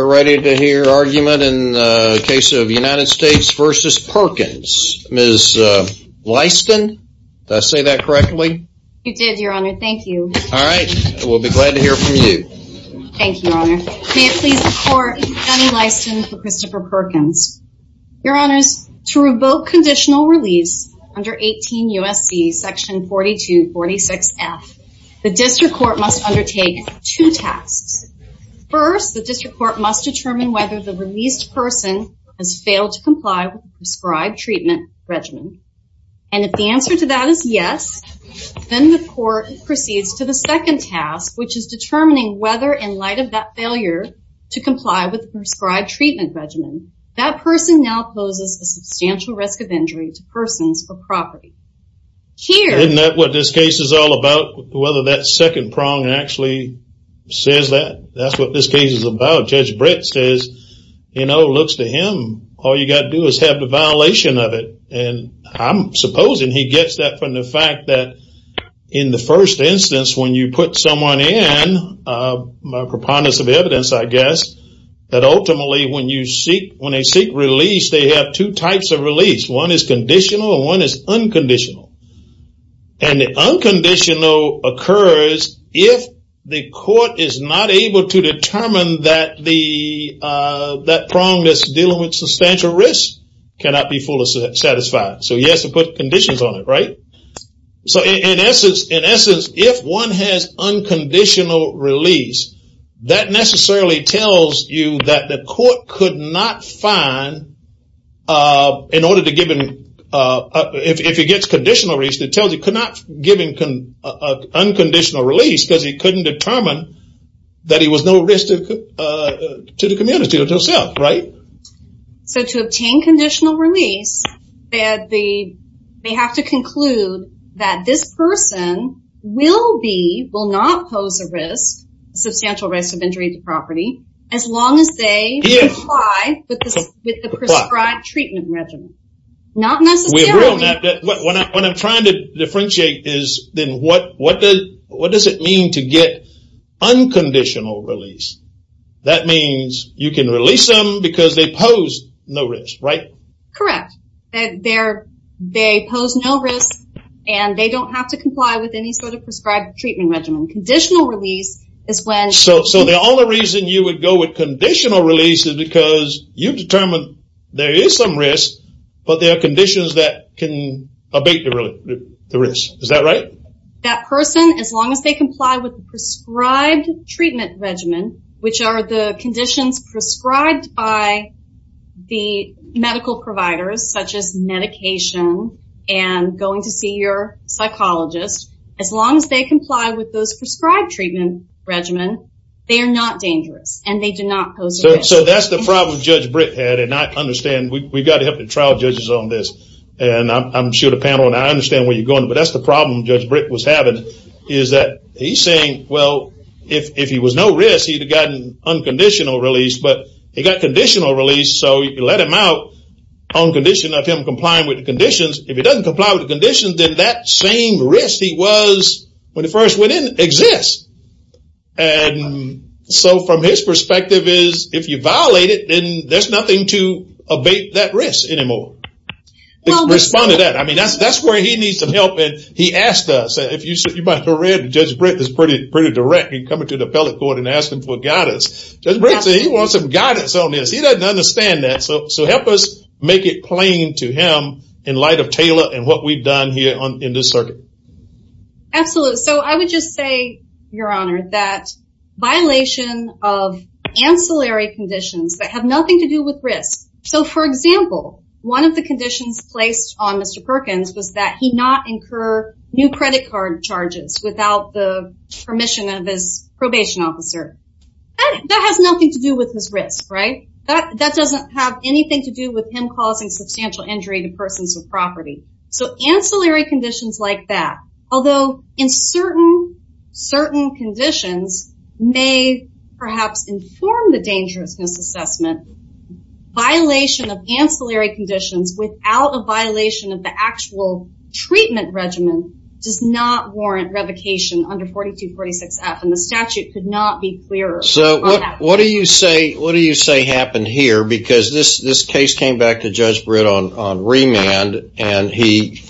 We're ready to hear argument in the case of United States v. Perkins. Ms. Lyston, did I say that correctly? You did, your honor. Thank you. All right. We'll be glad to hear from you. Thank you, your honor. May it please the court, I'm Jenny Lyston for Christopher Perkins. Your honors, to revoke conditional release under 18 U.S.C. section 4246F, the district court must undertake two tasks. First, the district court must determine whether the released person has failed to comply with the prescribed treatment regimen. And if the answer to that is yes, then the court proceeds to the second task, which is determining whether in light of that failure to comply with the prescribed treatment regimen, that person now poses a substantial risk of injury to persons for property. Here- That's what this case is about. Judge Brett says, you know, looks to him, all you got to do is have the violation of it. And I'm supposing he gets that from the fact that in the first instance, when you put someone in, my preponderance of evidence, I guess, that ultimately when you seek, when they seek release, they have two types of release. One is conditional and one is unconditional. And the unconditional occurs if the court is not able to determine that the, that prong that's dealing with substantial risk cannot be fully satisfied. So he has to put conditions on it, right? So in essence, if one has unconditional release, that necessarily tells you that the court could not find, in order to give him, if he gets conditional release, it tells you could not give him unconditional release because he couldn't determine that he was no risk to the community or to himself, right? So to obtain conditional release, they have to conclude that this person will be, will not pose a risk, substantial risk of injury to property, as long as they comply with the prescribed treatment regimen. Not necessarily. We agree on that. What I'm trying to differentiate is then what does it mean to get unconditional release? That means you can release them because they pose no risk, right? Correct. They're, they pose no risk and they don't have to comply with any sort of prescribed treatment regimen. Conditional release is when- So the only reason you would go with conditional release is because you've determined there is some risk, but there are conditions that can abate the risk. Is that right? That person, as long as they comply with the prescribed treatment regimen, which are the conditions prescribed by the medical providers, such as medication and going to see your psychologist, as long as they comply with those prescribed treatment regimen, they are not dangerous and they do not pose a risk. So that's the problem Judge Britt had, and I understand, we've got to have the trial judges on this, and I'm sure the panel, and I understand where you're going, but that's the problem Judge Britt was having, is that he's saying, well, if he was no risk, he'd have gotten unconditional release, but he got conditional release, so you let him out on condition of him complying with the conditions. If he doesn't comply with the conditions, then that same risk he was when he first went in exists. So from his perspective is, if you violate it, then there's nothing to abate that risk anymore. Respond to that. I mean, that's where he needs some help. He asked us, if you might have read, Judge Britt is pretty direct in coming to the appellate court and asking for guidance. Judge Britt said he wants some guidance on this, he doesn't understand that, so help us make it plain to him in light of Taylor and what we've done here in this circuit. Absolutely. So I would just say, Your Honor, that violation of ancillary conditions that have nothing to do with risk. So for example, one of the conditions placed on Mr. Perkins was that he not incur new credit card charges without the permission of his probation officer. That has nothing to do with his risk, right? That doesn't have anything to do with him causing substantial injury to persons of property. So ancillary conditions like that, although in certain conditions may perhaps inform the dangerousness assessment, violation of ancillary conditions without a violation of the actual treatment regimen does not warrant revocation under 4246F and the statute could not be clearer on that. What do you say happened here? Because this case came back to Judge Britt on remand, and he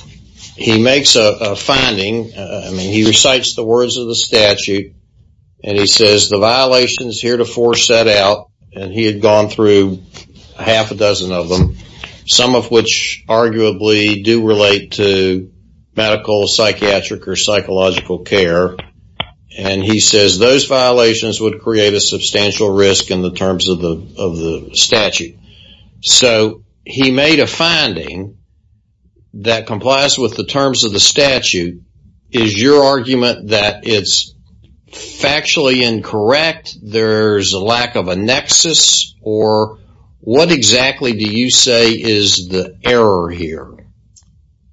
makes a finding, he recites the words of the statute, and he says the violations heretofore set out, and he had gone through half a dozen of them, some of which arguably do relate to medical, psychiatric or psychological care, and he says those violations would create a substantial risk in the terms of the statute. So he made a finding that complies with the terms of the statute. Is your argument that it's factually incorrect, there's a lack of a nexus, or what exactly do you say is the error here?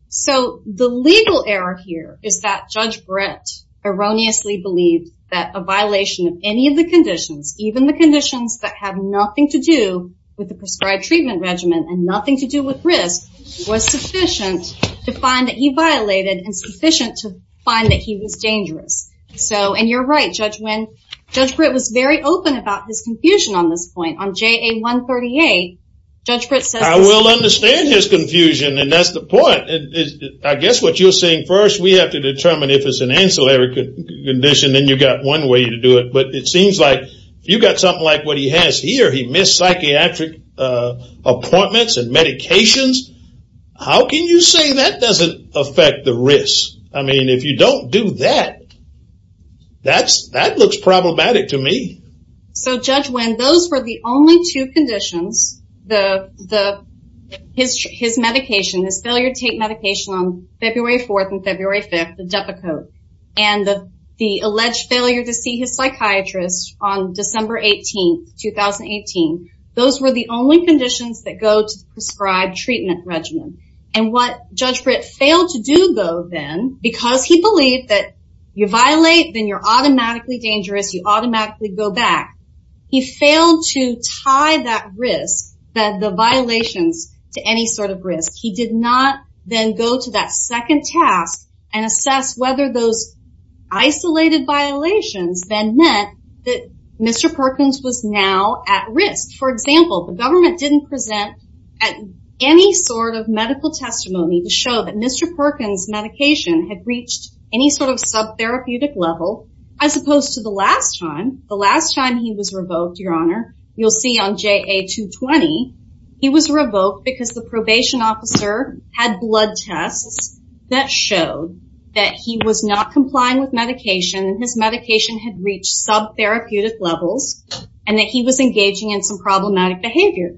So the legal error here is that Judge Britt erroneously believed that a violation of any of the conditions, even the conditions that have nothing to do with the prescribed treatment regimen and nothing to do with risk, was sufficient to find that he violated and sufficient to find that he was dangerous. So and you're right, Judge Wynn, Judge Britt was very open about his confusion on this point. On JA 138, Judge Britt says- I will understand his confusion, and that's the point. I guess what you're saying first, we have to determine if it's an ancillary condition, then you got one way to do it. But it seems like if you got something like what he has here, he missed psychiatric appointments and medications, how can you say that doesn't affect the risk? I mean, if you don't do that, that looks problematic to me. So Judge Wynn, those were the only two conditions, his medication, his failure to take medication on February 4th and February 5th, the Depakote, and the alleged failure to see his psychiatrist on December 18th, 2018. Those were the only conditions that go to the prescribed treatment regimen. And what Judge Britt failed to do though then, because he believed that you violate, then you're automatically dangerous, you automatically go back. He failed to tie that risk, the violations, to any sort of risk. He did not then go to that second task and assess whether those isolated violations then meant that Mr. Perkins was now at risk. For example, the government didn't present any sort of medical testimony to show that Mr. Perkins' medication had reached any sort of sub-therapeutic level, as opposed to the last time. The last time he was revoked, Your Honor, you'll see on JA 220, he was revoked because the probation officer had blood tests that showed that he was not complying with medication and his medication had reached sub-therapeutic levels and that he was engaging in some problematic behavior.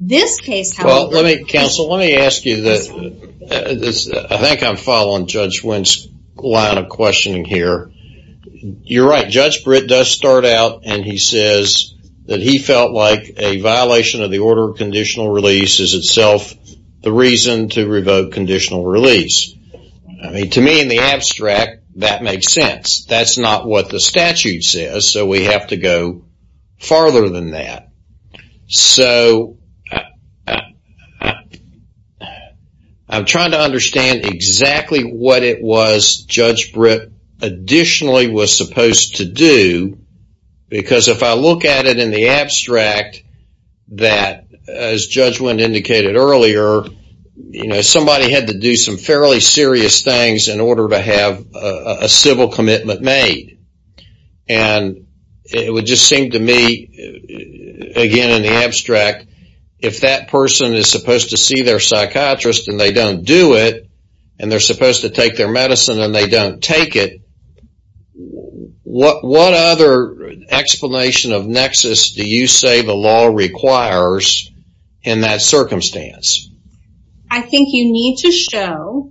This case, however... Well, counsel, let me ask you this. I think I'm following Judge Wendt's line of questioning here. You're right. Judge Britt does start out and he says that he felt like a violation of the order of conditional release is itself the reason to revoke conditional release. To me, in the abstract, that makes sense. That's not what the statute says, so we have to go farther than that. So, I'm trying to understand exactly what it was Judge Britt additionally was supposed to do, because if I look at it in the abstract, that, as Judge Wendt indicated earlier, somebody had to do some fairly serious things in order to have a civil commitment made, and it would seem to me, again in the abstract, if that person is supposed to see their psychiatrist and they don't do it, and they're supposed to take their medicine and they don't take it, what other explanation of nexus do you say the law requires in that circumstance? I think you need to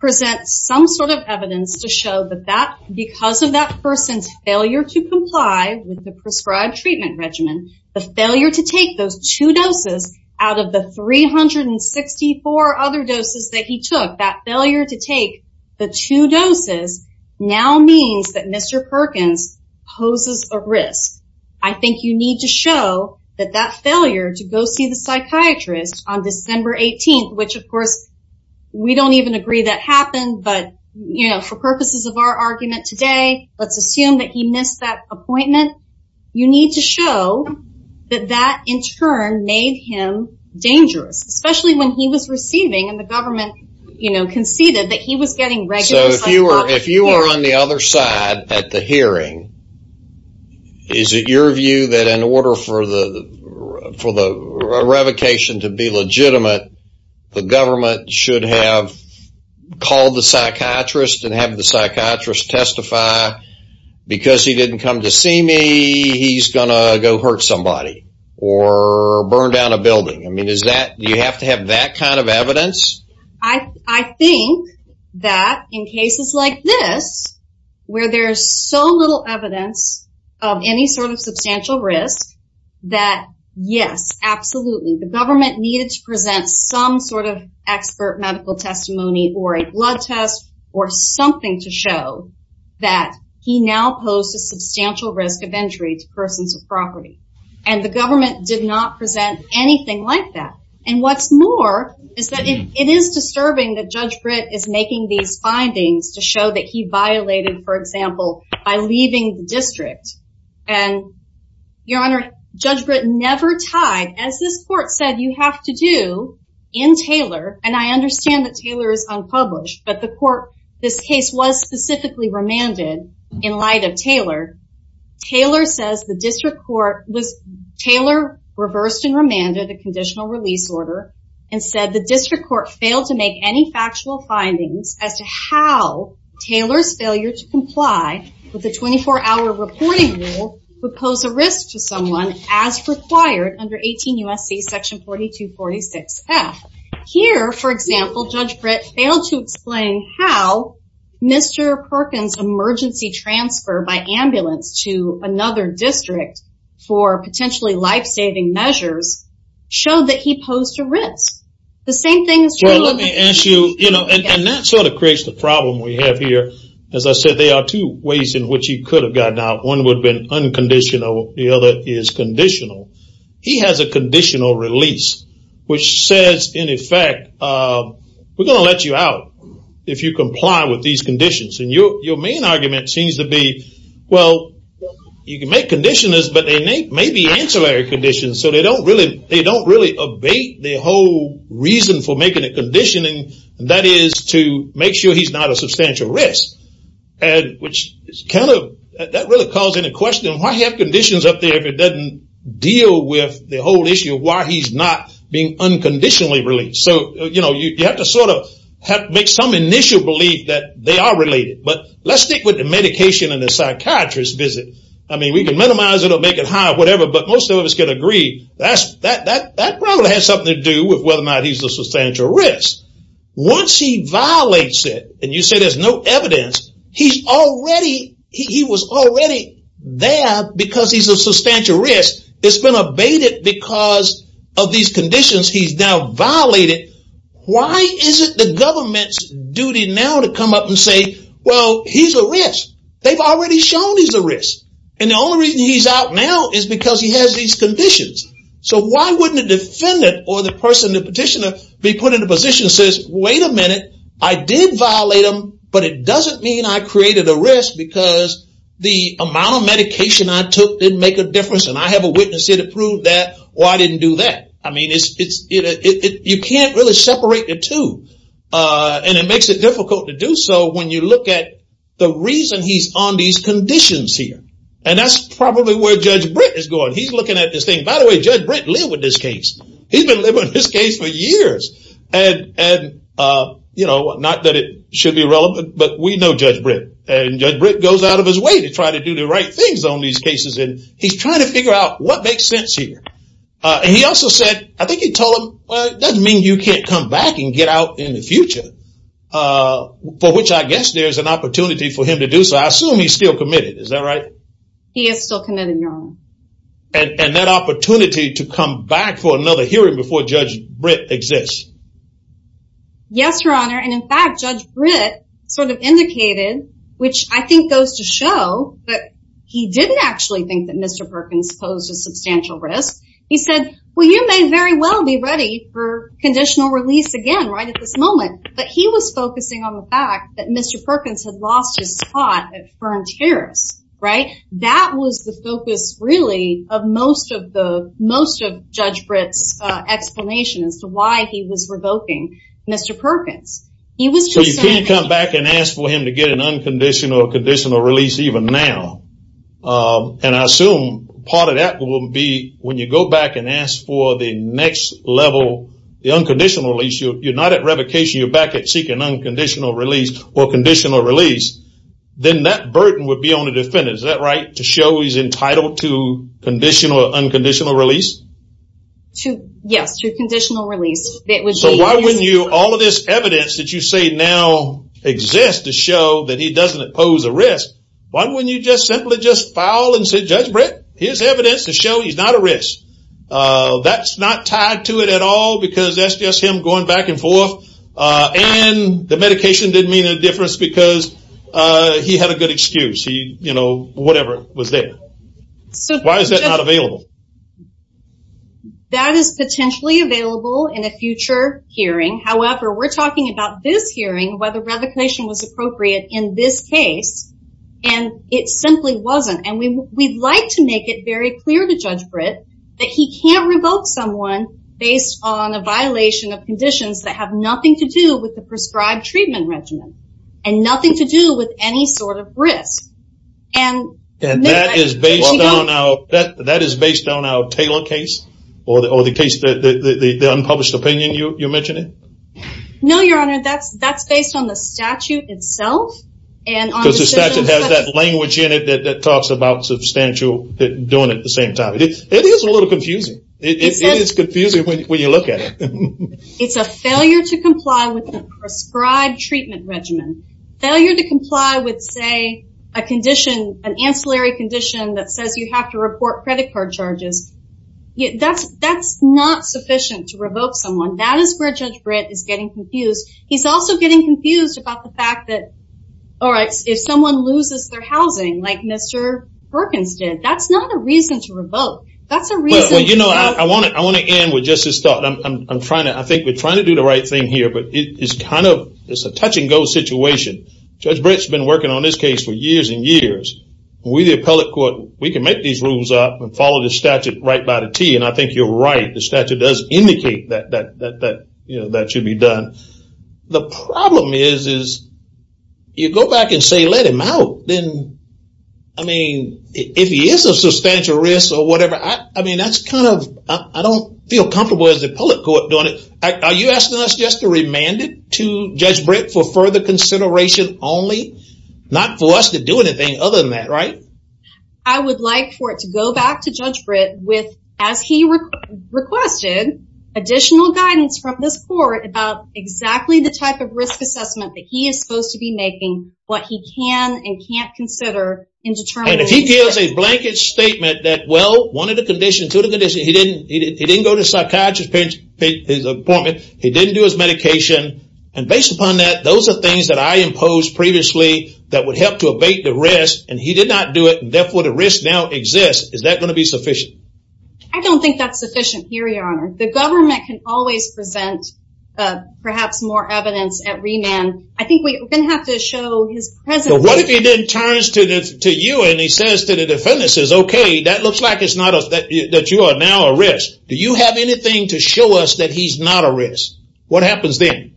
present some sort of evidence to show that because of that person's failure to comply with the prescribed treatment regimen, the failure to take those two doses out of the 364 other doses that he took, that failure to take the two doses now means that Mr. Perkins poses a risk. I think you need to show that that failure to go see the psychiatrist on December 18th, which of course we don't even agree that happened, but for purposes of our argument today, let's assume that he missed that appointment. You need to show that that in turn made him dangerous, especially when he was receiving and the government conceded that he was getting regular psychiatric care. If you are on the other side at the hearing, is it your view that in order for the revocation to be legitimate, the government should have called the psychiatrist and have the psychiatrist testify because he didn't come to see me, he's going to go hurt somebody or burn down a building. Do you have to have that kind of evidence? I think that in cases like this, where there's so little evidence of any sort of substantial risk that yes, absolutely, the government needed to present some sort of expert medical testimony or a blood test or something to show that he now poses substantial risk of injury to persons of property and the government did not present anything like that. And what's more is that it is disturbing that Judge Britt is making these findings to show that he violated, for example, by leaving the district and your honor, Judge Britt never tied, as this court said you have to do in Taylor and I understand that Taylor is unpublished but the court, this case was specifically remanded in light of Taylor. Taylor says the district court, Taylor reversed and remanded a conditional release order and said the district court failed to make any factual findings as to how Taylor's failure to comply with the 24-hour reporting rule would pose a risk to someone as required under 18 U.S.C. section 4246F. Here for example, Judge Britt failed to explain how Mr. Perkins' emergency transfer by ambulance to another district for potentially life-saving measures showed that he posed a risk. The same thing is true- I'm going to ask you, and that sort of creates the problem we have here. As I said, there are two ways in which he could have gotten out. One would have been unconditional, the other is conditional. He has a conditional release, which says in effect, we're going to let you out if you comply with these conditions and your main argument seems to be, well, you can make conditionals but they may be ancillary conditions so they don't really abate the whole reason for making the conditioning, and that is to make sure he's not a substantial risk. That really calls into question, why have conditions up there if it doesn't deal with the whole issue of why he's not being unconditionally released? You have to make some initial belief that they are related, but let's stick with the medication and the psychiatrist visit. We can minimize it or make it higher, whatever, but most of us can agree that probably has something to do with whether or not he's a substantial risk. Once he violates it, and you say there's no evidence, he was already there because he's a substantial risk, it's been abated because of these conditions he's now violated, why is it the government's duty now to come up and say, well, he's a risk? They've already shown he's a risk, and the only reason he's out now is because he has these conditions. Why wouldn't the defendant or the petitioner be put in a position that says, wait a minute, I did violate him, but it doesn't mean I created a risk because the amount of medication I took didn't make a difference, and I have a witness here to prove that, or I didn't do that. You can't really separate the two, and it makes it difficult to do so when you look at the reason he's on these conditions here, and that's probably where Judge Britt is going. He's looking at this thing. By the way, Judge Britt lived with this case. He's been living with this case for years. Not that it should be relevant, but we know Judge Britt, and Judge Britt goes out of his way to try to do the right things on these cases, and he's trying to figure out what makes sense here. He also said, I think he told him, well, it doesn't mean you can't come back and get out in the future, for which I guess there's an opportunity for him to do, so I assume he's still committed. Is that right? He is still committed, Your Honor. And that opportunity to come back for another hearing before Judge Britt exists. Yes, Your Honor, and in fact, Judge Britt sort of indicated, which I think goes to show that he didn't actually think that Mr. Perkins posed a substantial risk. He said, well, you may very well be ready for conditional release again right at this moment, but he was focusing on the fact that Mr. Perkins had lost his spot at Fern Terrace, right? That was the focus, really, of most of Judge Britt's explanation as to why he was revoking Mr. Perkins. He was concerned- So you can't come back and ask for him to get an unconditional or conditional release even now, and I assume part of that will be when you go back and ask for the next level, the unconditional release, you're not at revocation, you're back at seeking unconditional release or conditional release, then that burden would be on the defendant. Is that right? To show he's entitled to conditional or unconditional release? Yes, to conditional release. It would be- So why wouldn't you, all of this evidence that you say now exists to show that he doesn't pose a risk, why wouldn't you just simply just file and say, Judge Britt, here's evidence to show he's not a risk? That's not tied to it at all because that's just him going back and forth, and the medication didn't mean a difference because he had a good excuse, whatever was there. So why is that not available? That is potentially available in a future hearing, however, we're talking about this hearing, whether revocation was appropriate in this case, and it simply wasn't, and we'd like to make it very clear to Judge Britt that he can't revoke someone based on a violation of conditions that have nothing to do with the prescribed treatment regimen, and nothing to do with any sort of risk. And that is based on our Taylor case, or the case, the unpublished opinion, you mentioned it? No, Your Honor, that's based on the statute itself, and on- Because the statute has that language in it that talks about substantial doing it at the same time. It is a little confusing. It is confusing when you look at it. It's a failure to comply with the prescribed treatment regimen. Failure to comply with, say, a condition, an ancillary condition that says you have to report credit card charges, that's not sufficient to revoke someone. That is where Judge Britt is getting confused. He's also getting confused about the fact that, all right, if someone loses their housing, like Mr. Perkins did, that's not a reason to revoke. That's a reason- Well, you know, I want to end with just this thought. I'm trying to, I think we're trying to do the right thing here, but it's kind of, it's a touch and go situation. Judge Britt's been working on this case for years and years. We the appellate court, we can make these rules up and follow the statute right by the T, and I think you're right. The statute does indicate that that should be done. The problem is, is you go back and say let him out, then, I mean, if he is a substantial risk or whatever, I mean, that's kind of, I don't feel comfortable as the appellate court doing it. Are you asking us just to remand it to Judge Britt for further consideration only? Not for us to do anything other than that, right? I would like for it to go back to Judge Britt with, as he requested, additional guidance from this court about exactly the type of risk assessment that he is supposed to be making, what he can and can't consider in determining- And if he gives a blanket statement that, well, one of the conditions, two of the conditions, he didn't go to a psychiatrist to pay his appointment, he didn't do his medication, and based upon that, those are things that I imposed previously that would help to abate the risk, and he did not do it, and therefore, the risk now exists. Is that going to be sufficient? I don't think that's sufficient here, Your Honor. The government can always present perhaps more evidence at remand. I think we're going to have to show his presence- What if he then turns to you and he says to the defendants, says, okay, that looks like it's not a, that you are now a risk. Do you have anything to show us that he's not a risk? What happens then?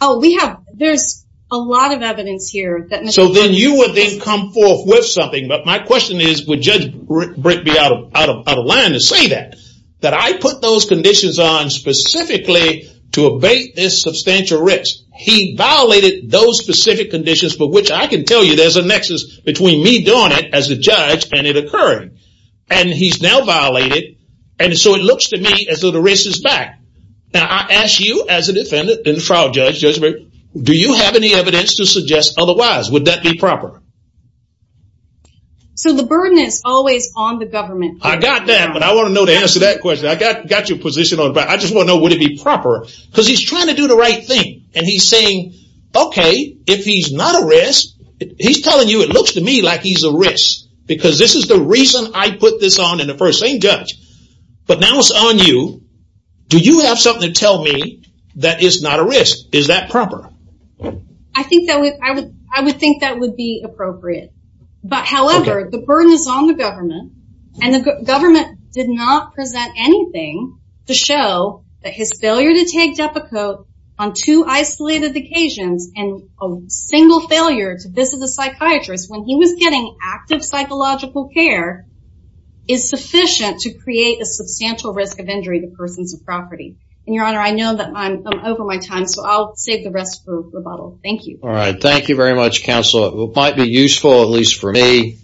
Oh, we have, there's a lot of evidence here that- So then you would then come forth with something, but my question is, would Judge Britt be out of line to say that? That I put those conditions on specifically to abate this substantial risk. He violated those specific conditions for which I can tell you there's a nexus between me doing it as a judge and it occurring, and he's now violated, and so it looks to me as though the risk is back. Now, I ask you as a defendant and trial judge, Judge Britt, do you have any evidence to suggest otherwise? Would that be proper? So the burden is always on the government. I got that, but I want to know the answer to that question. I got your position on it, but I just want to know would it be proper, because he's trying to do the right thing, and he's saying, okay, if he's not a risk, he's telling you it looks to me like he's a risk, because this is the reason I put this on in the first, same judge, but now it's on you. Do you have something to tell me that is not a risk? Is that proper? I think that would, I would think that would be appropriate, but however, the burden is on the government, and the government did not present anything to show that his failure to take Depakote on two isolated occasions, and a single failure to visit the psychiatrist when he was getting active psychological care is sufficient to create a substantial risk of injury to persons of property, and your honor, I know that I'm over my time, so I'll save the rest for rebuttal. Thank you. All right. Thank you very much, counsel. It might be useful, at least for me,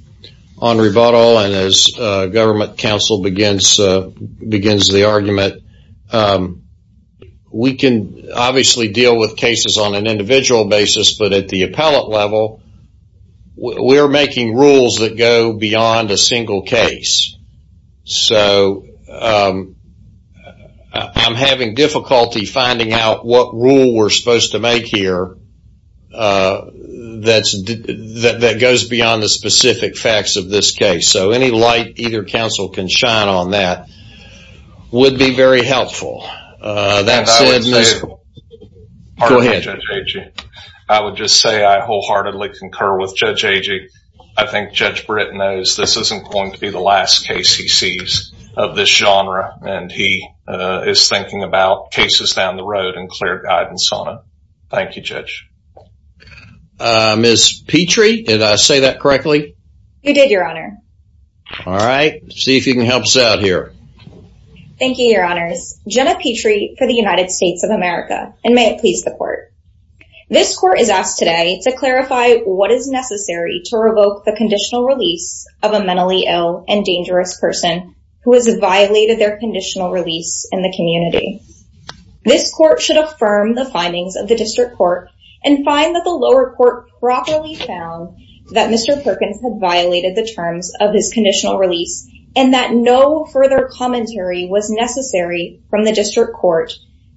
on rebuttal, and as government counsel begins the argument, that we can obviously deal with cases on an individual basis, but at the appellate level, we're making rules that go beyond a single case, so I'm having difficulty finding out what rule we're supposed to make here that goes beyond the specific facts of this case, so any light either counsel can shine on that would be very helpful. And I would say, I wholeheartedly concur with Judge Agee. I think Judge Britt knows this isn't going to be the last case he sees of this genre, and he is thinking about cases down the road and clear guidance on it. Thank you, Judge. Ms. Petrie, did I say that correctly? You did, Your Honor. All right. Let's see if you can help us out here. Thank you, Your Honors. Jenna Petrie for the United States of America, and may it please the Court. This Court is asked today to clarify what is necessary to revoke the conditional release of a mentally ill and dangerous person who has violated their conditional release in the community. This Court should affirm the findings of the District Court and find that the lower court properly found that Mr. Perkins had violated the terms of his conditional release and that no further commentary was necessary from the District Court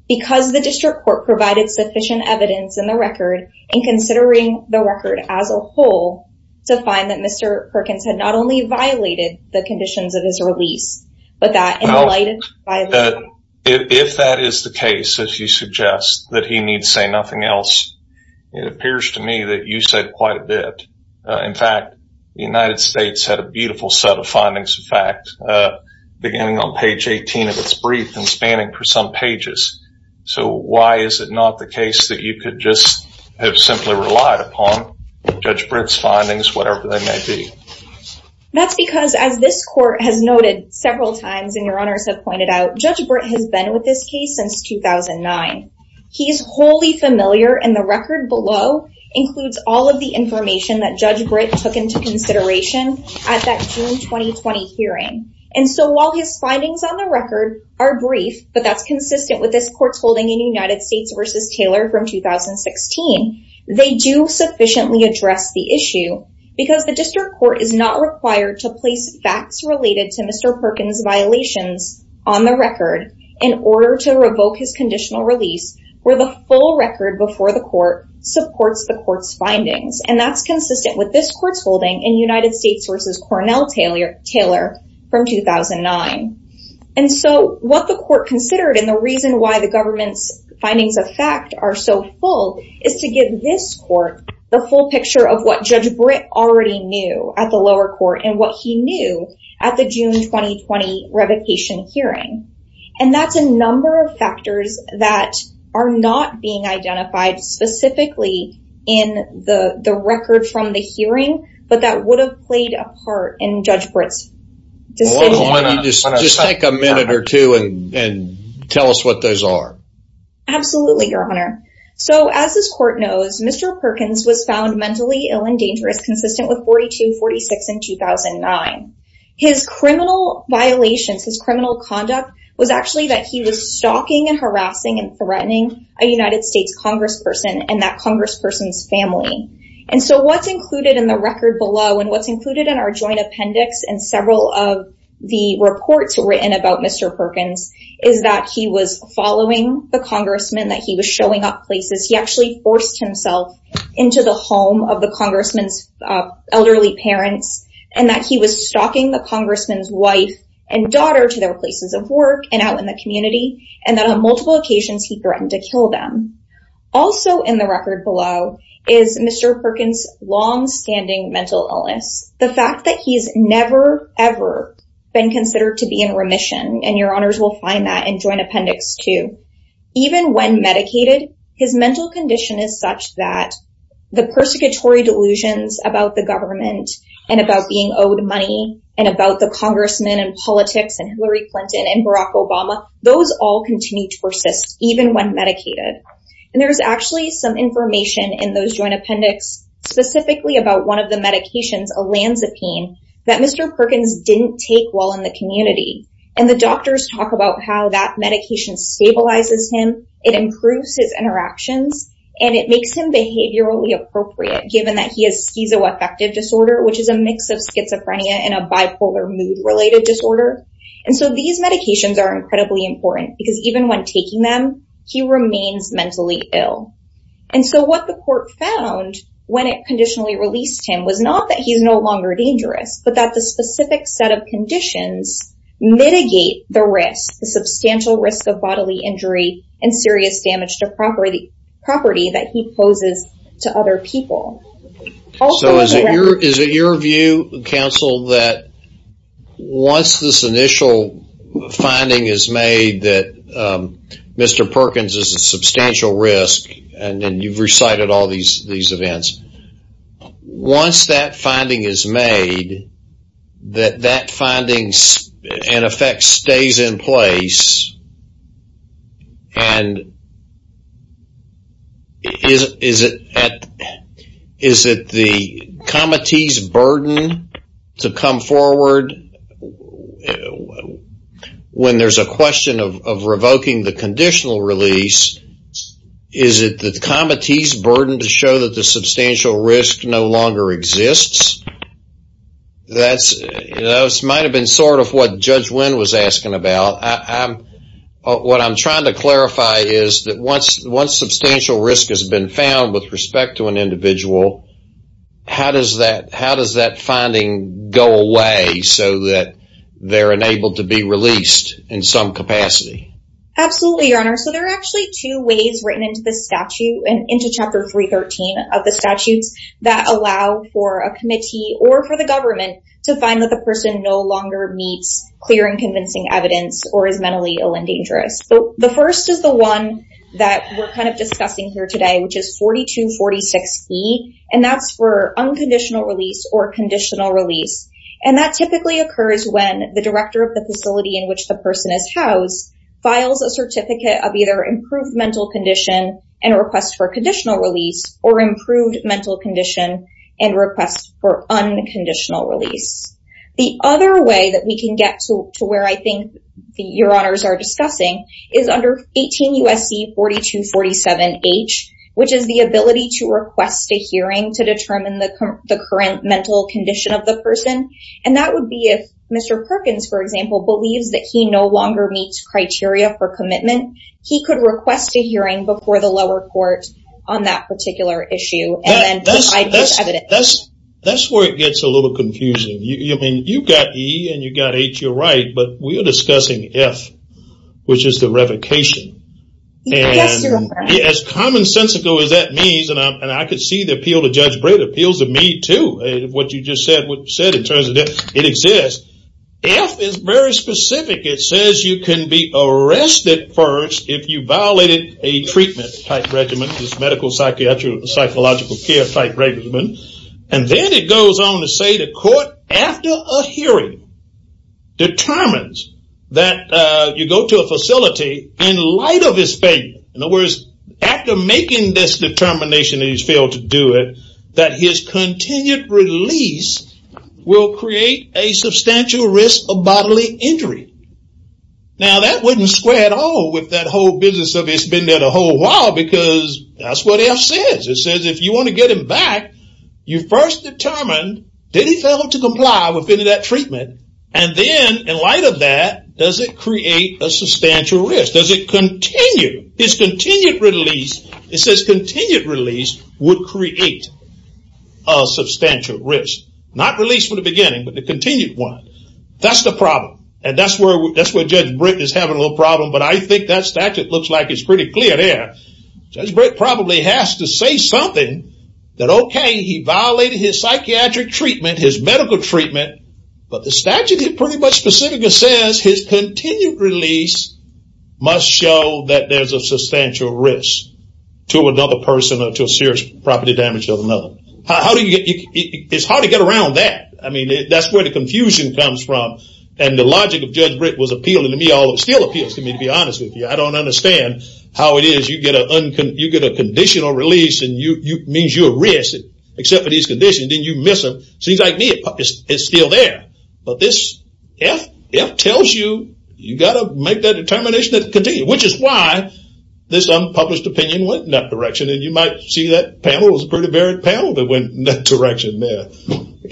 because the District Court provided sufficient evidence in the record in considering the record as a whole to find that Mr. Perkins had not only violated the conditions of his release, but that in light of his violation. Well, if that is the case, as you suggest, that he needs say nothing else, it appears to me that you said quite a bit. In fact, the United States had a beautiful set of findings, in fact, beginning on page 18 of its brief and spanning for some pages. So why is it not the case that you could just have simply relied upon Judge Britt's findings, whatever they may be? That's because as this Court has noted several times and Your Honors have pointed out, Judge Britt has been with this case since 2009. He's wholly familiar and the record below includes all of the information that Judge Britt took into consideration at that June 2020 hearing. And so while his findings on the record are brief, but that's consistent with this Court's holding in United States v. Taylor from 2016, they do sufficiently address the issue because the District Court is not required to place facts related to Mr. Perkins' violations on the record in order to revoke his conditional release where the full record before the Court supports the Court's findings. And that's consistent with this Court's holding in United States v. Cornell-Taylor from 2009. And so what the Court considered and the reason why the government's findings of fact are so full is to give this Court the full picture of what Judge Britt already knew at the lower court and what he knew at the June 2020 revocation hearing. And that's a number of factors that are not being identified specifically in the record from the hearing, but that would have played a part in Judge Britt's decision. Just take a minute or two and tell us what those are. Absolutely, Your Honor. So as this Court knows, Mr. Perkins was found mentally ill and dangerous consistent with the court's ruling on June 22, 2042, 46, and 2009. His criminal violations, his criminal conduct was actually that he was stalking and harassing and threatening a United States congressperson and that congressperson's family. And so what's included in the record below and what's included in our joint appendix and several of the reports written about Mr. Perkins is that he was following the congressman, that he was showing up places, he actually forced himself into the home of the congressman's elderly parents, and that he was stalking the congressman's wife and daughter to their places of work and out in the community, and that on multiple occasions he threatened to kill them. Also in the record below is Mr. Perkins' longstanding mental illness. The fact that he's never, ever been considered to be in remission, and Your Honors will find that in joint appendix two. Even when medicated, his mental condition is such that the persecutory delusions about the government and about being owed money and about the congressman and politics and Hillary Clinton and Barack Obama, those all continue to persist even when medicated. And there's actually some information in those joint appendix specifically about one of the medications, Olanzapine, that Mr. Perkins didn't take while in the community. And the doctors talk about how that medication stabilizes him, it improves his interactions, and it makes him behaviorally appropriate given that he has schizoaffective disorder, which is a mix of schizophrenia and a bipolar mood-related disorder. And so these medications are incredibly important because even when taking them, he remains mentally ill. And so what the court found when it conditionally released him was not that he's no longer dangerous, but that the specific set of conditions mitigate the risk, the substantial risk of property that he poses to other people. So is it your view, counsel, that once this initial finding is made that Mr. Perkins is a substantial risk, and you've recited all these events, once that finding is made, that finding in effect stays in place, and is it the committee's burden to come forward when there's a question of revoking the conditional release, is it the committee's burden to show that the substantial risk no longer exists? That might have been sort of what Judge Wynn was asking about. What I'm trying to clarify is that once substantial risk has been found with respect to an individual, how does that finding go away so that they're enabled to be released in some capacity? Absolutely, Your Honor. So there are actually two ways written into the statute and into Chapter 313 of the statutes that allow for a committee or for the government to find that the person no longer meets clear and convincing evidence or is mentally ill and dangerous. So the first is the one that we're kind of discussing here today, which is 4246E, and that's for unconditional release or conditional release. And that typically occurs when the director of the facility in which the person is housed files a certificate of either improved mental condition and a request for conditional release or improved mental condition and requests for unconditional release. The other way that we can get to where I think Your Honors are discussing is under 18 USC 4247H, which is the ability to request a hearing to determine the current mental condition of the person. And that would be if Mr. Perkins, for example, believes that he no longer meets criteria for commitment, he could request a hearing before the lower court on that particular issue and then provide this evidence. That's where it gets a little confusing. I mean, you've got E and you've got H, you're right, but we're discussing F, which is the revocation. Yes, Your Honor. As commonsensical as that means, and I could see the appeal to Judge Breda appeals to me too, what you just said in terms of it exists, F is very specific. It says you can be arrested first if you violated a treatment type regimen, this medical, psychiatric, psychological care type regimen. And then it goes on to say the court, after a hearing, determines that you go to a facility in light of his failure. In other words, after making this determination that he's failed to do it, that his continued release will create a substantial risk of bodily injury. Now, that wouldn't square at all with that whole business of it's been there a whole while because that's what F says. It says if you want to get him back, you first determine, did he fail to comply with any of that treatment? And then in light of that, does it create a substantial risk? Does it continue? His continued release, it says continued release would create a substantial risk. Not release from the beginning, but the continued one. That's the problem. And that's where Judge Britt is having a little problem, but I think that statute looks like it's pretty clear there. Judge Britt probably has to say something that, okay, he violated his psychiatric treatment, his medical treatment, but the statute is pretty much specific and says his continued release must show that there's a substantial risk to another person or to a serious property damage to another. It's hard to get around that. I mean, that's where the confusion comes from. And the logic of Judge Britt was appealing to me, although it still appeals to me, to be honest with you. I don't understand how it is you get a conditional release and it means you're at risk, except for these conditions, then you miss them. Seems like me, it's still there. But this F tells you, you got to make that determination to continue, which is why this unpublished opinion went in that direction. And you might see that panel, it was a pretty varied panel that went in that direction there.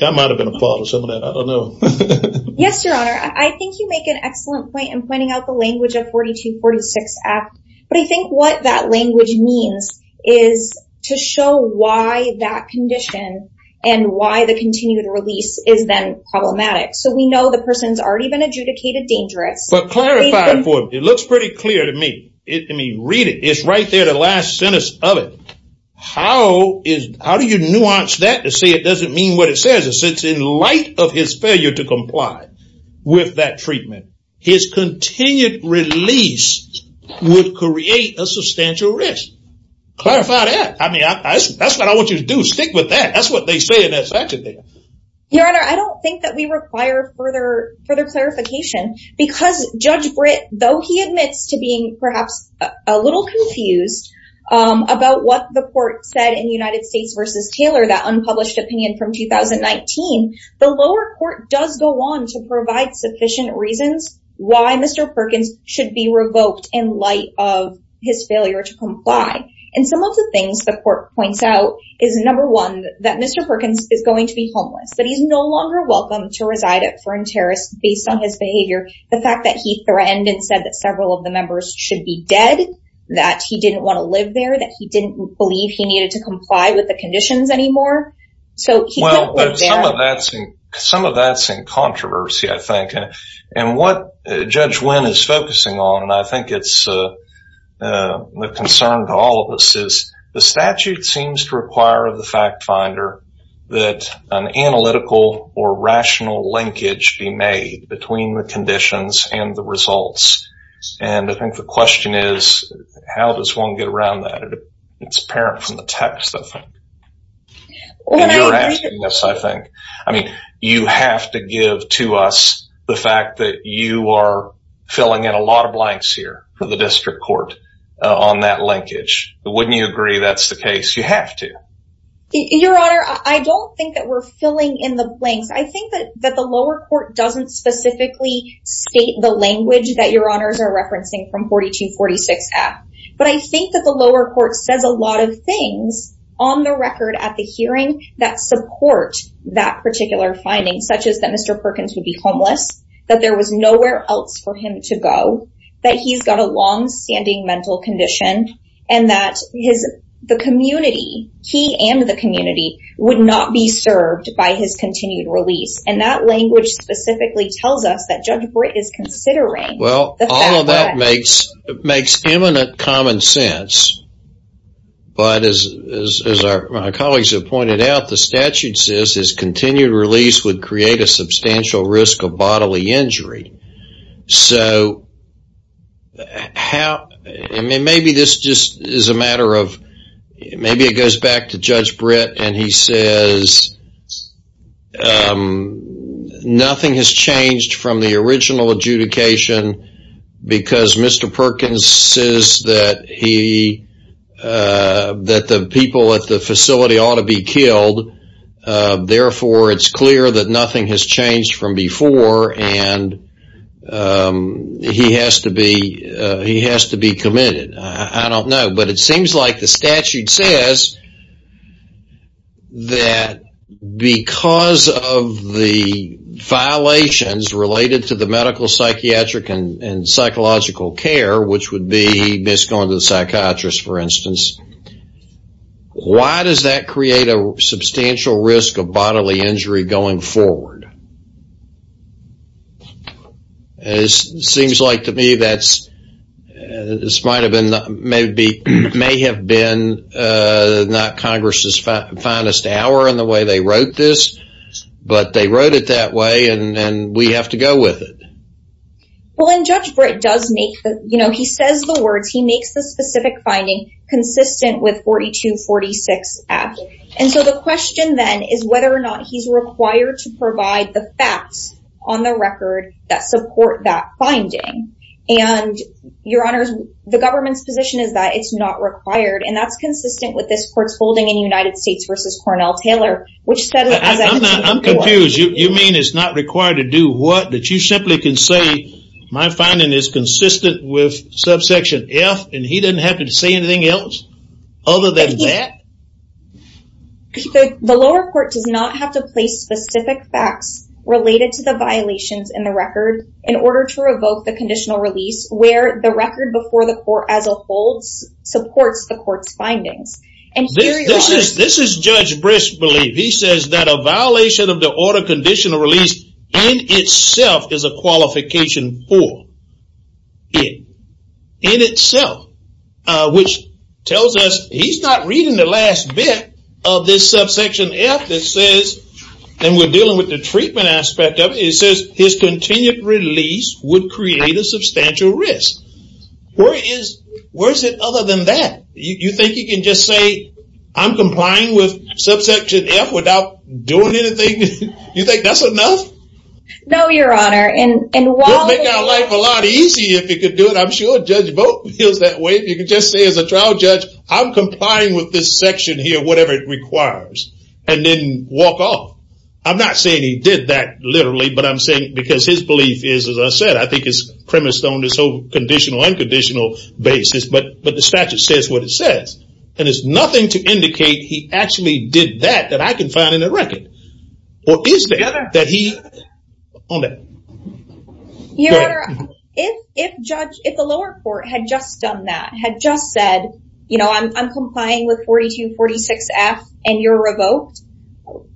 I might've been a part of some of that, I don't know. Yes, Your Honor. I think you make an excellent point in pointing out the language of 4246F. But I think what that language means is to show why that condition and why the continued release is then problematic. So we know the person's already been adjudicated dangerous. But clarify it for me. It looks pretty clear to me. Read it. It's right there, the last sentence of it. How do you nuance that to say it doesn't mean what it says? It says, in light of his failure to comply with that treatment, his continued release would create a substantial risk. Clarify that. I mean, that's what I want you to do. Stick with that. That's what they say in that section there. Your Honor, I don't think that we require further clarification because Judge Britt, though he admits to being perhaps a little confused about what the court said in United States v. Taylor, that unpublished opinion from 2019, the lower court does go on to provide sufficient reasons why Mr. Perkins should be revoked in light of his failure to comply. And some of the things the court points out is, number one, that Mr. Perkins is going to be homeless, that he's no longer welcome to reside at Fern Terrace based on his behavior. The fact that he threatened and said that several of the members should be dead, that he didn't want to live there, that he didn't believe he needed to comply with the conditions anymore. So he couldn't live there. Some of that's in controversy, I think. And what Judge Wynn is focusing on, and I think it's a concern to all of us, is the analytical or rational linkage be made between the conditions and the results. And I think the question is, how does one get around that? It's apparent from the text, I think. And you're asking this, I think. I mean, you have to give to us the fact that you are filling in a lot of blanks here for the district court on that linkage. Wouldn't you agree that's the case? You have to. Your Honor, I don't think that we're filling in the blanks. I think that the lower court doesn't specifically state the language that Your Honors are referencing from 4246F. But I think that the lower court says a lot of things on the record at the hearing that support that particular finding, such as that Mr. Perkins would be homeless, that there was nowhere else for him to go, that he's got a long-standing mental condition, and that the community, he and the community, would not be served by his continued release. And that language specifically tells us that Judge Brett is considering the fact that- Well, all of that makes imminent common sense. But as our colleagues have pointed out, the statute says his continued release would create a substantial risk of bodily injury. So maybe this just is a matter of- Maybe it goes back to Judge Brett, and he says nothing has changed from the original adjudication because Mr. Perkins says that the people at the facility ought to be killed. Therefore, it's clear that nothing has changed from before, and he has to be committed. I don't know. But it seems like the statute says that because of the violations related to the medical, psychiatric, and psychological care, which would be misconduct of the psychiatrist, for bodily injury going forward. It seems like to me that this may have been not Congress's finest hour in the way they wrote this, but they wrote it that way, and we have to go with it. Well, and Judge Brett does make the- He says the words. He makes the specific finding consistent with 4246F. And so the question then is whether or not he's required to provide the facts on the record that support that finding. And, your honors, the government's position is that it's not required, and that's consistent with this court's holding in United States versus Cornell-Taylor, which said- I'm confused. You mean it's not required to do what? That you simply can say my finding is consistent with subsection F, and he doesn't have to say anything else other than that? The lower court does not have to place specific facts related to the violations in the record in order to revoke the conditional release, where the record before the court as a whole supports the court's findings. And here your- This is Judge Brist's belief. He says that a violation of the order conditional release in itself is a qualification for it, in itself, which tells us he's not reading the last bit of this subsection F that says, and we're dealing with the treatment aspect of it, it says his continued release would create a substantial risk. Where is it other than that? You think you can just say I'm complying with subsection F without doing anything? You think that's enough? No, your honor, and while- It would make our life a lot easier if he could do it. I'm sure Judge Boat feels that way. If you could just say as a trial judge, I'm complying with this section here, whatever it requires, and then walk off. I'm not saying he did that literally, but I'm saying because his belief is, as I said, I think it's premised on this whole conditional, unconditional basis, but the statute says what it says. And there's nothing to indicate he actually did that that I can find in the record. Or is there? That he- On that. Your honor, if the lower court had just done that, had just said, I'm complying with 4246F and you're revoked,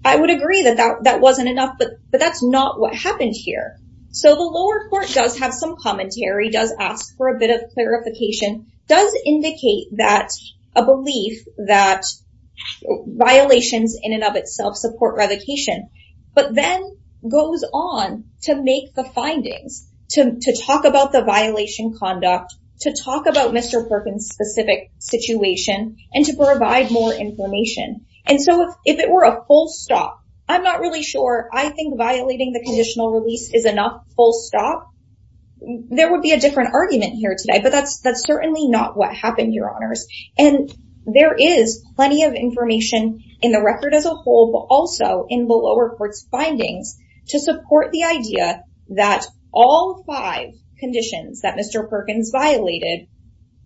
I would agree that that wasn't enough, but that's not what happened here. So the lower court does have some commentary, does ask for a bit of clarification, does indicate that a belief that violations in and of itself support revocation, but then goes on to make the findings, to talk about the violation conduct, to talk about Mr. Perkins' specific situation, and to provide more information. And so if it were a full stop, I'm not really sure, I think violating the conditional release is enough, full stop. There would be a different argument here today, but that's certainly not what happened, your honors. And there is plenty of information in the record as a whole, but also in the lower court's to support the idea that all five conditions that Mr. Perkins violated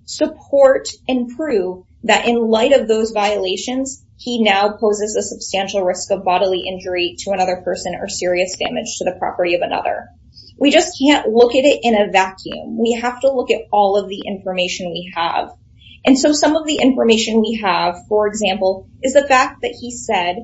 support and prove that in light of those violations, he now poses a substantial risk of bodily injury to another person or serious damage to the property of another. We just can't look at it in a vacuum. We have to look at all of the information we have. And so some of the information we have, for example, is the fact that he said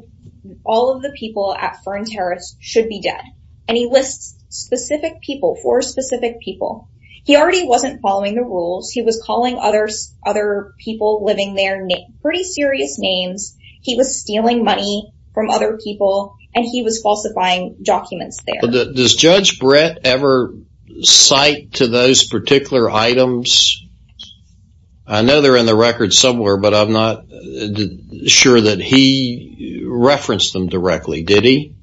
all of the people at Fern Terrace should be dead. And he lists specific people, four specific people. He already wasn't following the rules. He was calling other people living there pretty serious names. He was stealing money from other people, and he was falsifying documents there. Does Judge Brett ever cite to those particular items? I know they're in the record somewhere, but I'm not sure that he referenced them directly. Did he?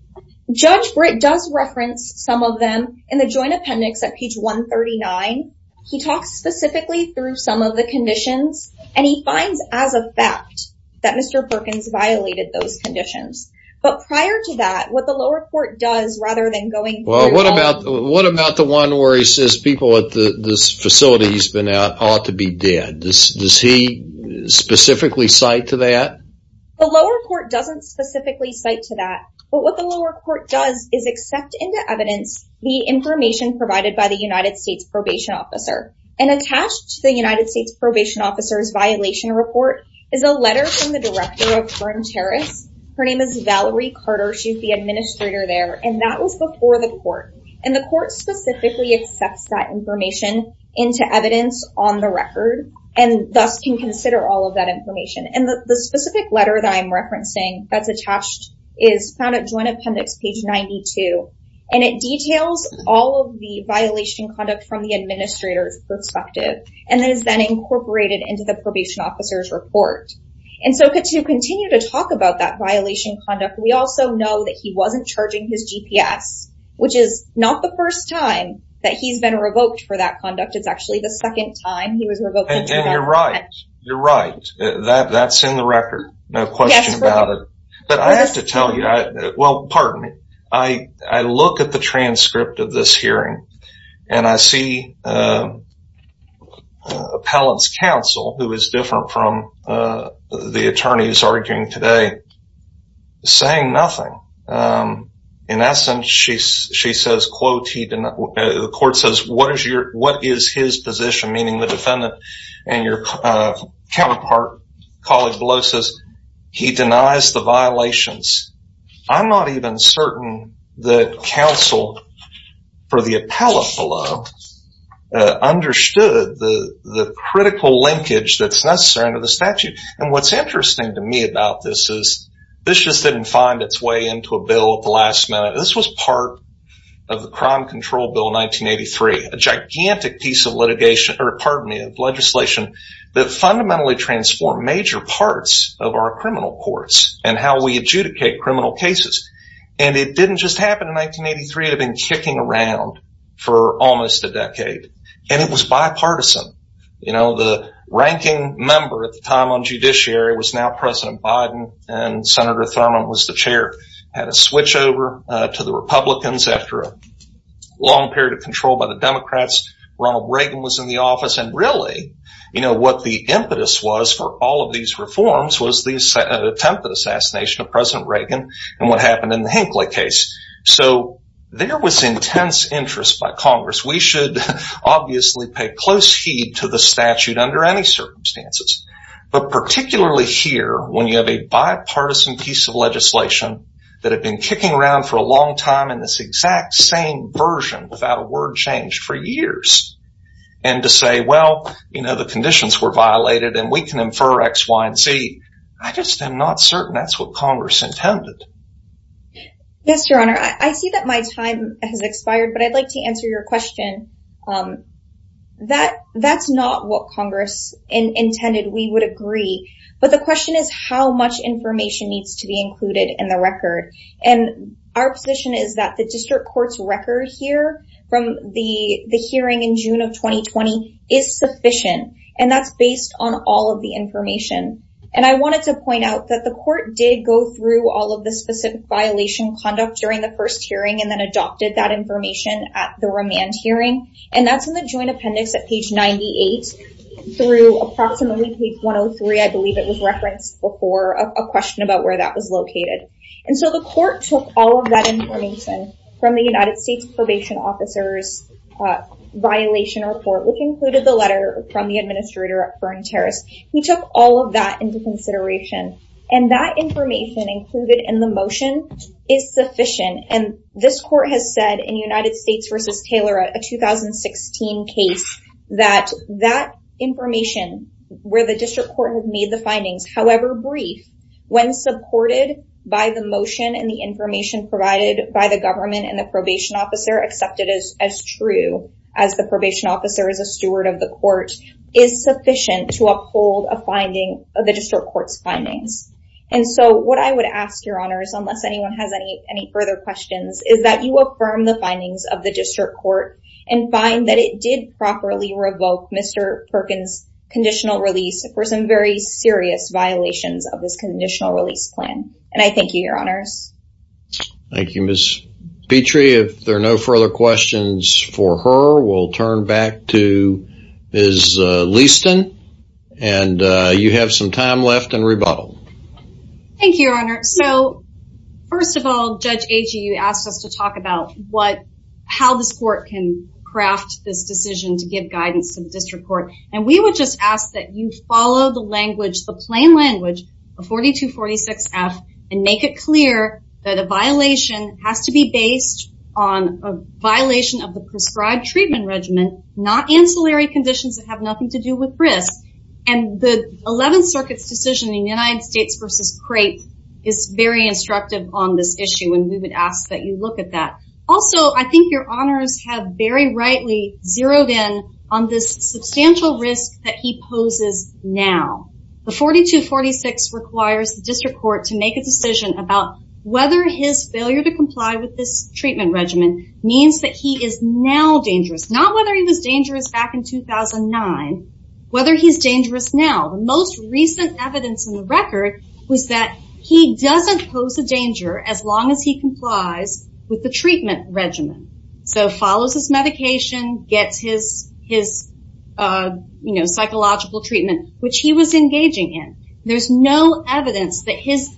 Judge Brett does reference some of them in the joint appendix at page 139. He talks specifically through some of the conditions, and he finds as a fact that Mr. Perkins violated those conditions. But prior to that, what the lower court does rather than going... Well, what about the one where he says people at this facility he's been at ought to be dead? Does he specifically cite to that? The lower court doesn't specifically cite to that. But what the lower court does is accept into evidence the information provided by the United States Probation Officer. And attached to the United States Probation Officer's violation report is a letter from the director of Fern Terrace. Her name is Valerie Carter. She's the administrator there. And that was before the court. And the court specifically accepts that information into evidence on the record and thus can consider all of that information. And the specific letter that I'm referencing that's attached is found at joint appendix page 92. And it details all of the violation conduct from the administrator's perspective and is then incorporated into the probation officer's report. And so to continue to talk about that violation conduct, we also know that he wasn't charging his GPS, which is not the first time that he's been revoked for that conduct. It's actually the second time he was revoked. And you're right. You're right. That's in the record. No question about it. But I have to tell you, well, pardon me. I look at the transcript of this hearing and I see Appellant's counsel, who is different from the attorney who's arguing today, saying nothing. In essence, she says, quote, the court says, what is his position? Meaning the defendant and your counterpart colleague below says he denies the violations. I'm not even certain that counsel for the appellant below understood the critical linkage that's necessary under the statute. And what's interesting to me about this is this just didn't find its way into a bill at the last minute. This was part of the Crime Control Bill 1983. A gigantic piece of legislation that fundamentally transformed major parts of our criminal courts and how we adjudicate criminal cases. And it didn't just happen in 1983. It had been kicking around for almost a decade. And it was bipartisan. The ranking member at the time on judiciary was now President Biden and Senator Thurmond was the chair. Had a switch over to the Republicans after a long period of control by the Democrats. Ronald Reagan was in the office. And really, you know, what the impetus was for all of these reforms was the attempt at assassination of President Reagan and what happened in the Hinckley case. So there was intense interest by Congress. We should obviously pay close heed to the statute under any circumstances. But particularly here, when you have a bipartisan piece of legislation that had been kicking around for a long time in this exact same version without a word change for years. And to say, well, you know, the conditions were violated and we can infer X, Y, and Z. I just am not certain that's what Congress intended. Yes, Your Honor. I see that my time has expired, but I'd like to answer your question. That that's not what Congress intended. We would agree. But the question is how much information needs to be included in the record. And our position is that the district court's record here from the hearing in June of 2020 is sufficient. And that's based on all of the information. And I wanted to point out that the court did go through all of the specific violation conduct during the first hearing and then adopted that information at the remand hearing. And that's in the joint appendix at page 98 through approximately page 103. I believe it was referenced before a question about where that was located. And so the court took all of that information from the United States probation officer's violation report, which included the letter from the administrator at Fern Terrace. He took all of that into consideration. And that information included in the motion is sufficient. And this court has said in United States v. Taylor, a 2016 case, that that information where the district court had made the findings, however brief, when supported by the motion and the information provided by the government and the probation officer accepted as true as the probation officer is a steward of the court, is sufficient to uphold a finding of the district court's findings. And so what I would ask your honors, unless anyone has any further questions, is that you affirm the findings of the district court and find that it did properly revoke Mr. Perkins' conditional release for some very serious violations of this conditional release plan. And I thank you, your honors. Thank you, Ms. Petrie. If there are no further questions for her, we'll turn back to Ms. Leaston. And you have some time left in rebuttal. Thank you, your honor. So first of all, Judge Agee, you asked us to talk about how this court can craft this decision to give guidance to the district court. And we would just ask that you follow the language, the plain language of 4246F and make it clear that a violation has to be based on a violation of the prescribed treatment regimen, not ancillary conditions that have nothing to do with risk. And the 11th Circuit's decision in the United States versus Crate is very instructive on this issue. And we would ask that you look at that. Also, I think your honors have very rightly zeroed in on this substantial risk that he poses now. The 4246 requires the district court to make a decision about whether his failure to comply with this treatment regimen means that he is now dangerous, not whether he was dangerous back in 2009, whether he's dangerous now. The most recent evidence in the record was that he doesn't pose a danger as long as he complies with the treatment regimen. So follows his medication, gets his psychological treatment, which he was engaging in. There's no evidence that his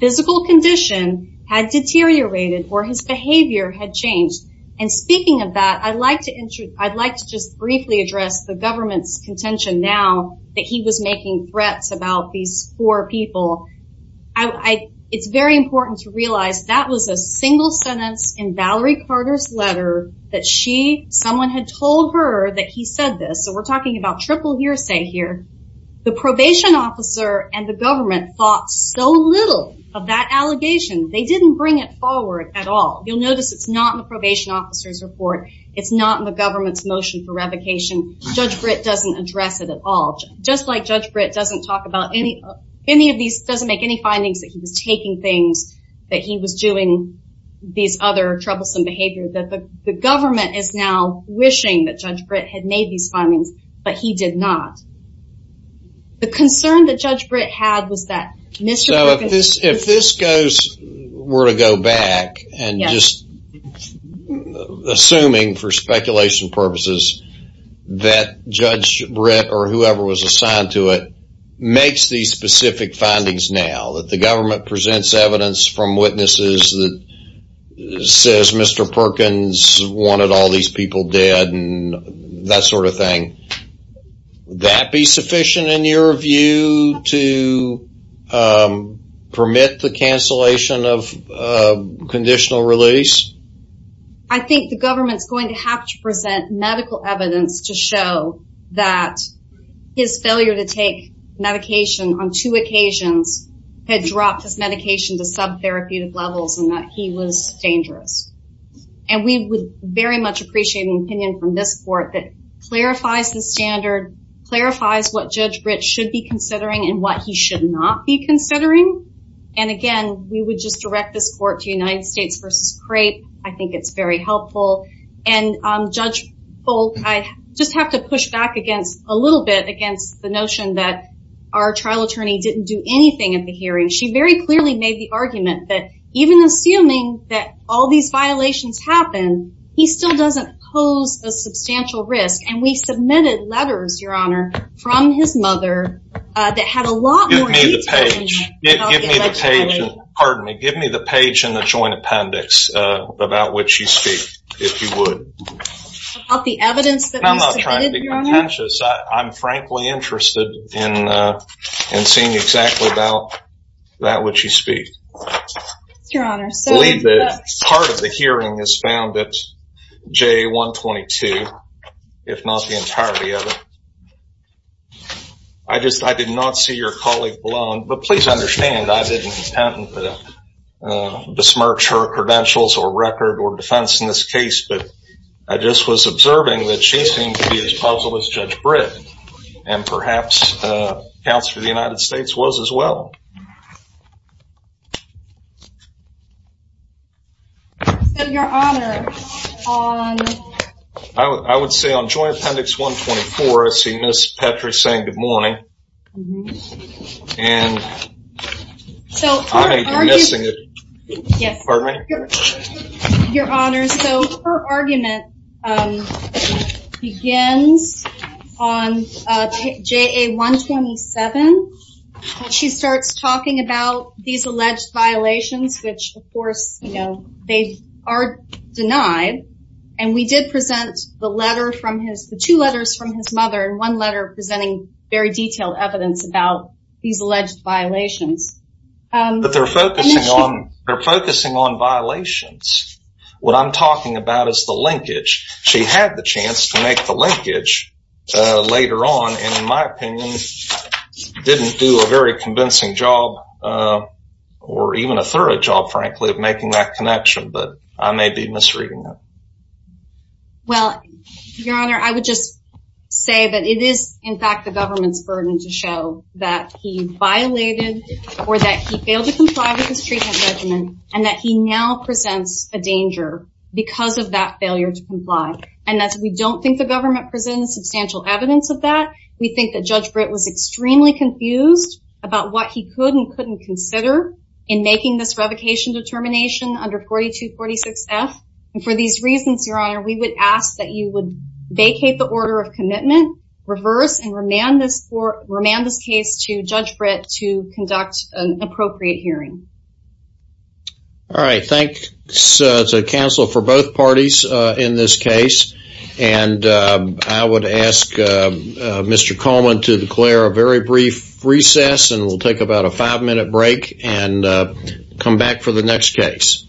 physical condition had deteriorated or his behavior had changed. And speaking of that, I'd like to just briefly address the government's contention now that he was making threats about these four people. It's very important to realize that was a single sentence in Valerie Carter's letter that someone had told her that he said this. So we're talking about triple hearsay here. The probation officer and the government thought so little of that allegation. They didn't bring it forward at all. You'll notice it's not in the probation officer's report. It's not in the government's motion for revocation. Judge Britt doesn't address it at all. Just like Judge Britt doesn't talk about any of these, doesn't make any findings that he was taking things, that he was doing these other troublesome behavior, that the government is now wishing that Judge Britt had made these findings, but he did not. The concern that Judge Britt had was that Mr. Perkins... We're to go back and just assuming for speculation purposes that Judge Britt or whoever was assigned to it makes these specific findings now that the government presents evidence from witnesses that says Mr. Perkins wanted all these people dead and that sort of thing. Would that be sufficient in your view to permit the cancellation of conditional release? I think the government's going to have to present medical evidence to show that his failure to take medication on two occasions had dropped his medication to sub-therapeutic levels and that he was dangerous. We would very much appreciate an opinion from this court that clarifies the standard, clarifies what Judge Britt should be considering and what he should not be considering. Again, we would just direct this court to United States versus CREPE. I think it's very helpful. Judge Folt, I just have to push back a little bit against the notion that our trial attorney didn't do anything at the hearing. She very clearly made the argument that even assuming that all these violations happen, he still doesn't pose a substantial risk. And we submitted letters, Your Honor, from his mother that had a lot more detail in it. Give me the page in the joint appendix about what you speak, if you would. I'm frankly interested in seeing exactly about that which you speak. Part of the hearing is found at J-122, if not the entirety of it. I did not see your colleague blown, but please understand I didn't intend to besmirch her credentials or record or defense in this case. I just was observing that she seemed to be as puzzled as Judge Britt. And perhaps the counselor of the United States was as well. I would say on joint appendix 124, I see Ms. Petrick saying good morning. And I may be missing it. Pardon me? Your Honor, so her argument begins on JA-127. She starts talking about these alleged violations, which of course, you know, they are denied. And we did present the letter from his, the two letters from his mother, and one letter presenting very detailed evidence about these alleged violations. But they're focusing on, they're focusing on violations. What I'm talking about is the linkage. She had the chance to make the linkage later on, and in my opinion, didn't do a very convincing job or even a thorough job, frankly, of making that connection. But I may be misreading it. Well, Your Honor, I would just say that it is in fact the government's burden to show that he violated or that he failed to comply with his treatment regimen, and that he now presents a danger because of that failure to comply. And as we don't think the government presents substantial evidence of that, we think that Judge Britt was extremely confused about what he could and couldn't consider in making this revocation determination under 4246F. And for these reasons, Your Honor, we would ask that you would vacate the order of commitment, reverse, and remand this case to Judge Britt to conduct an appropriate hearing. All right. Thanks to counsel for both parties in this case. And I would ask Mr. Coleman to declare a very brief recess, and we'll take about a five-minute break and come back for the next case.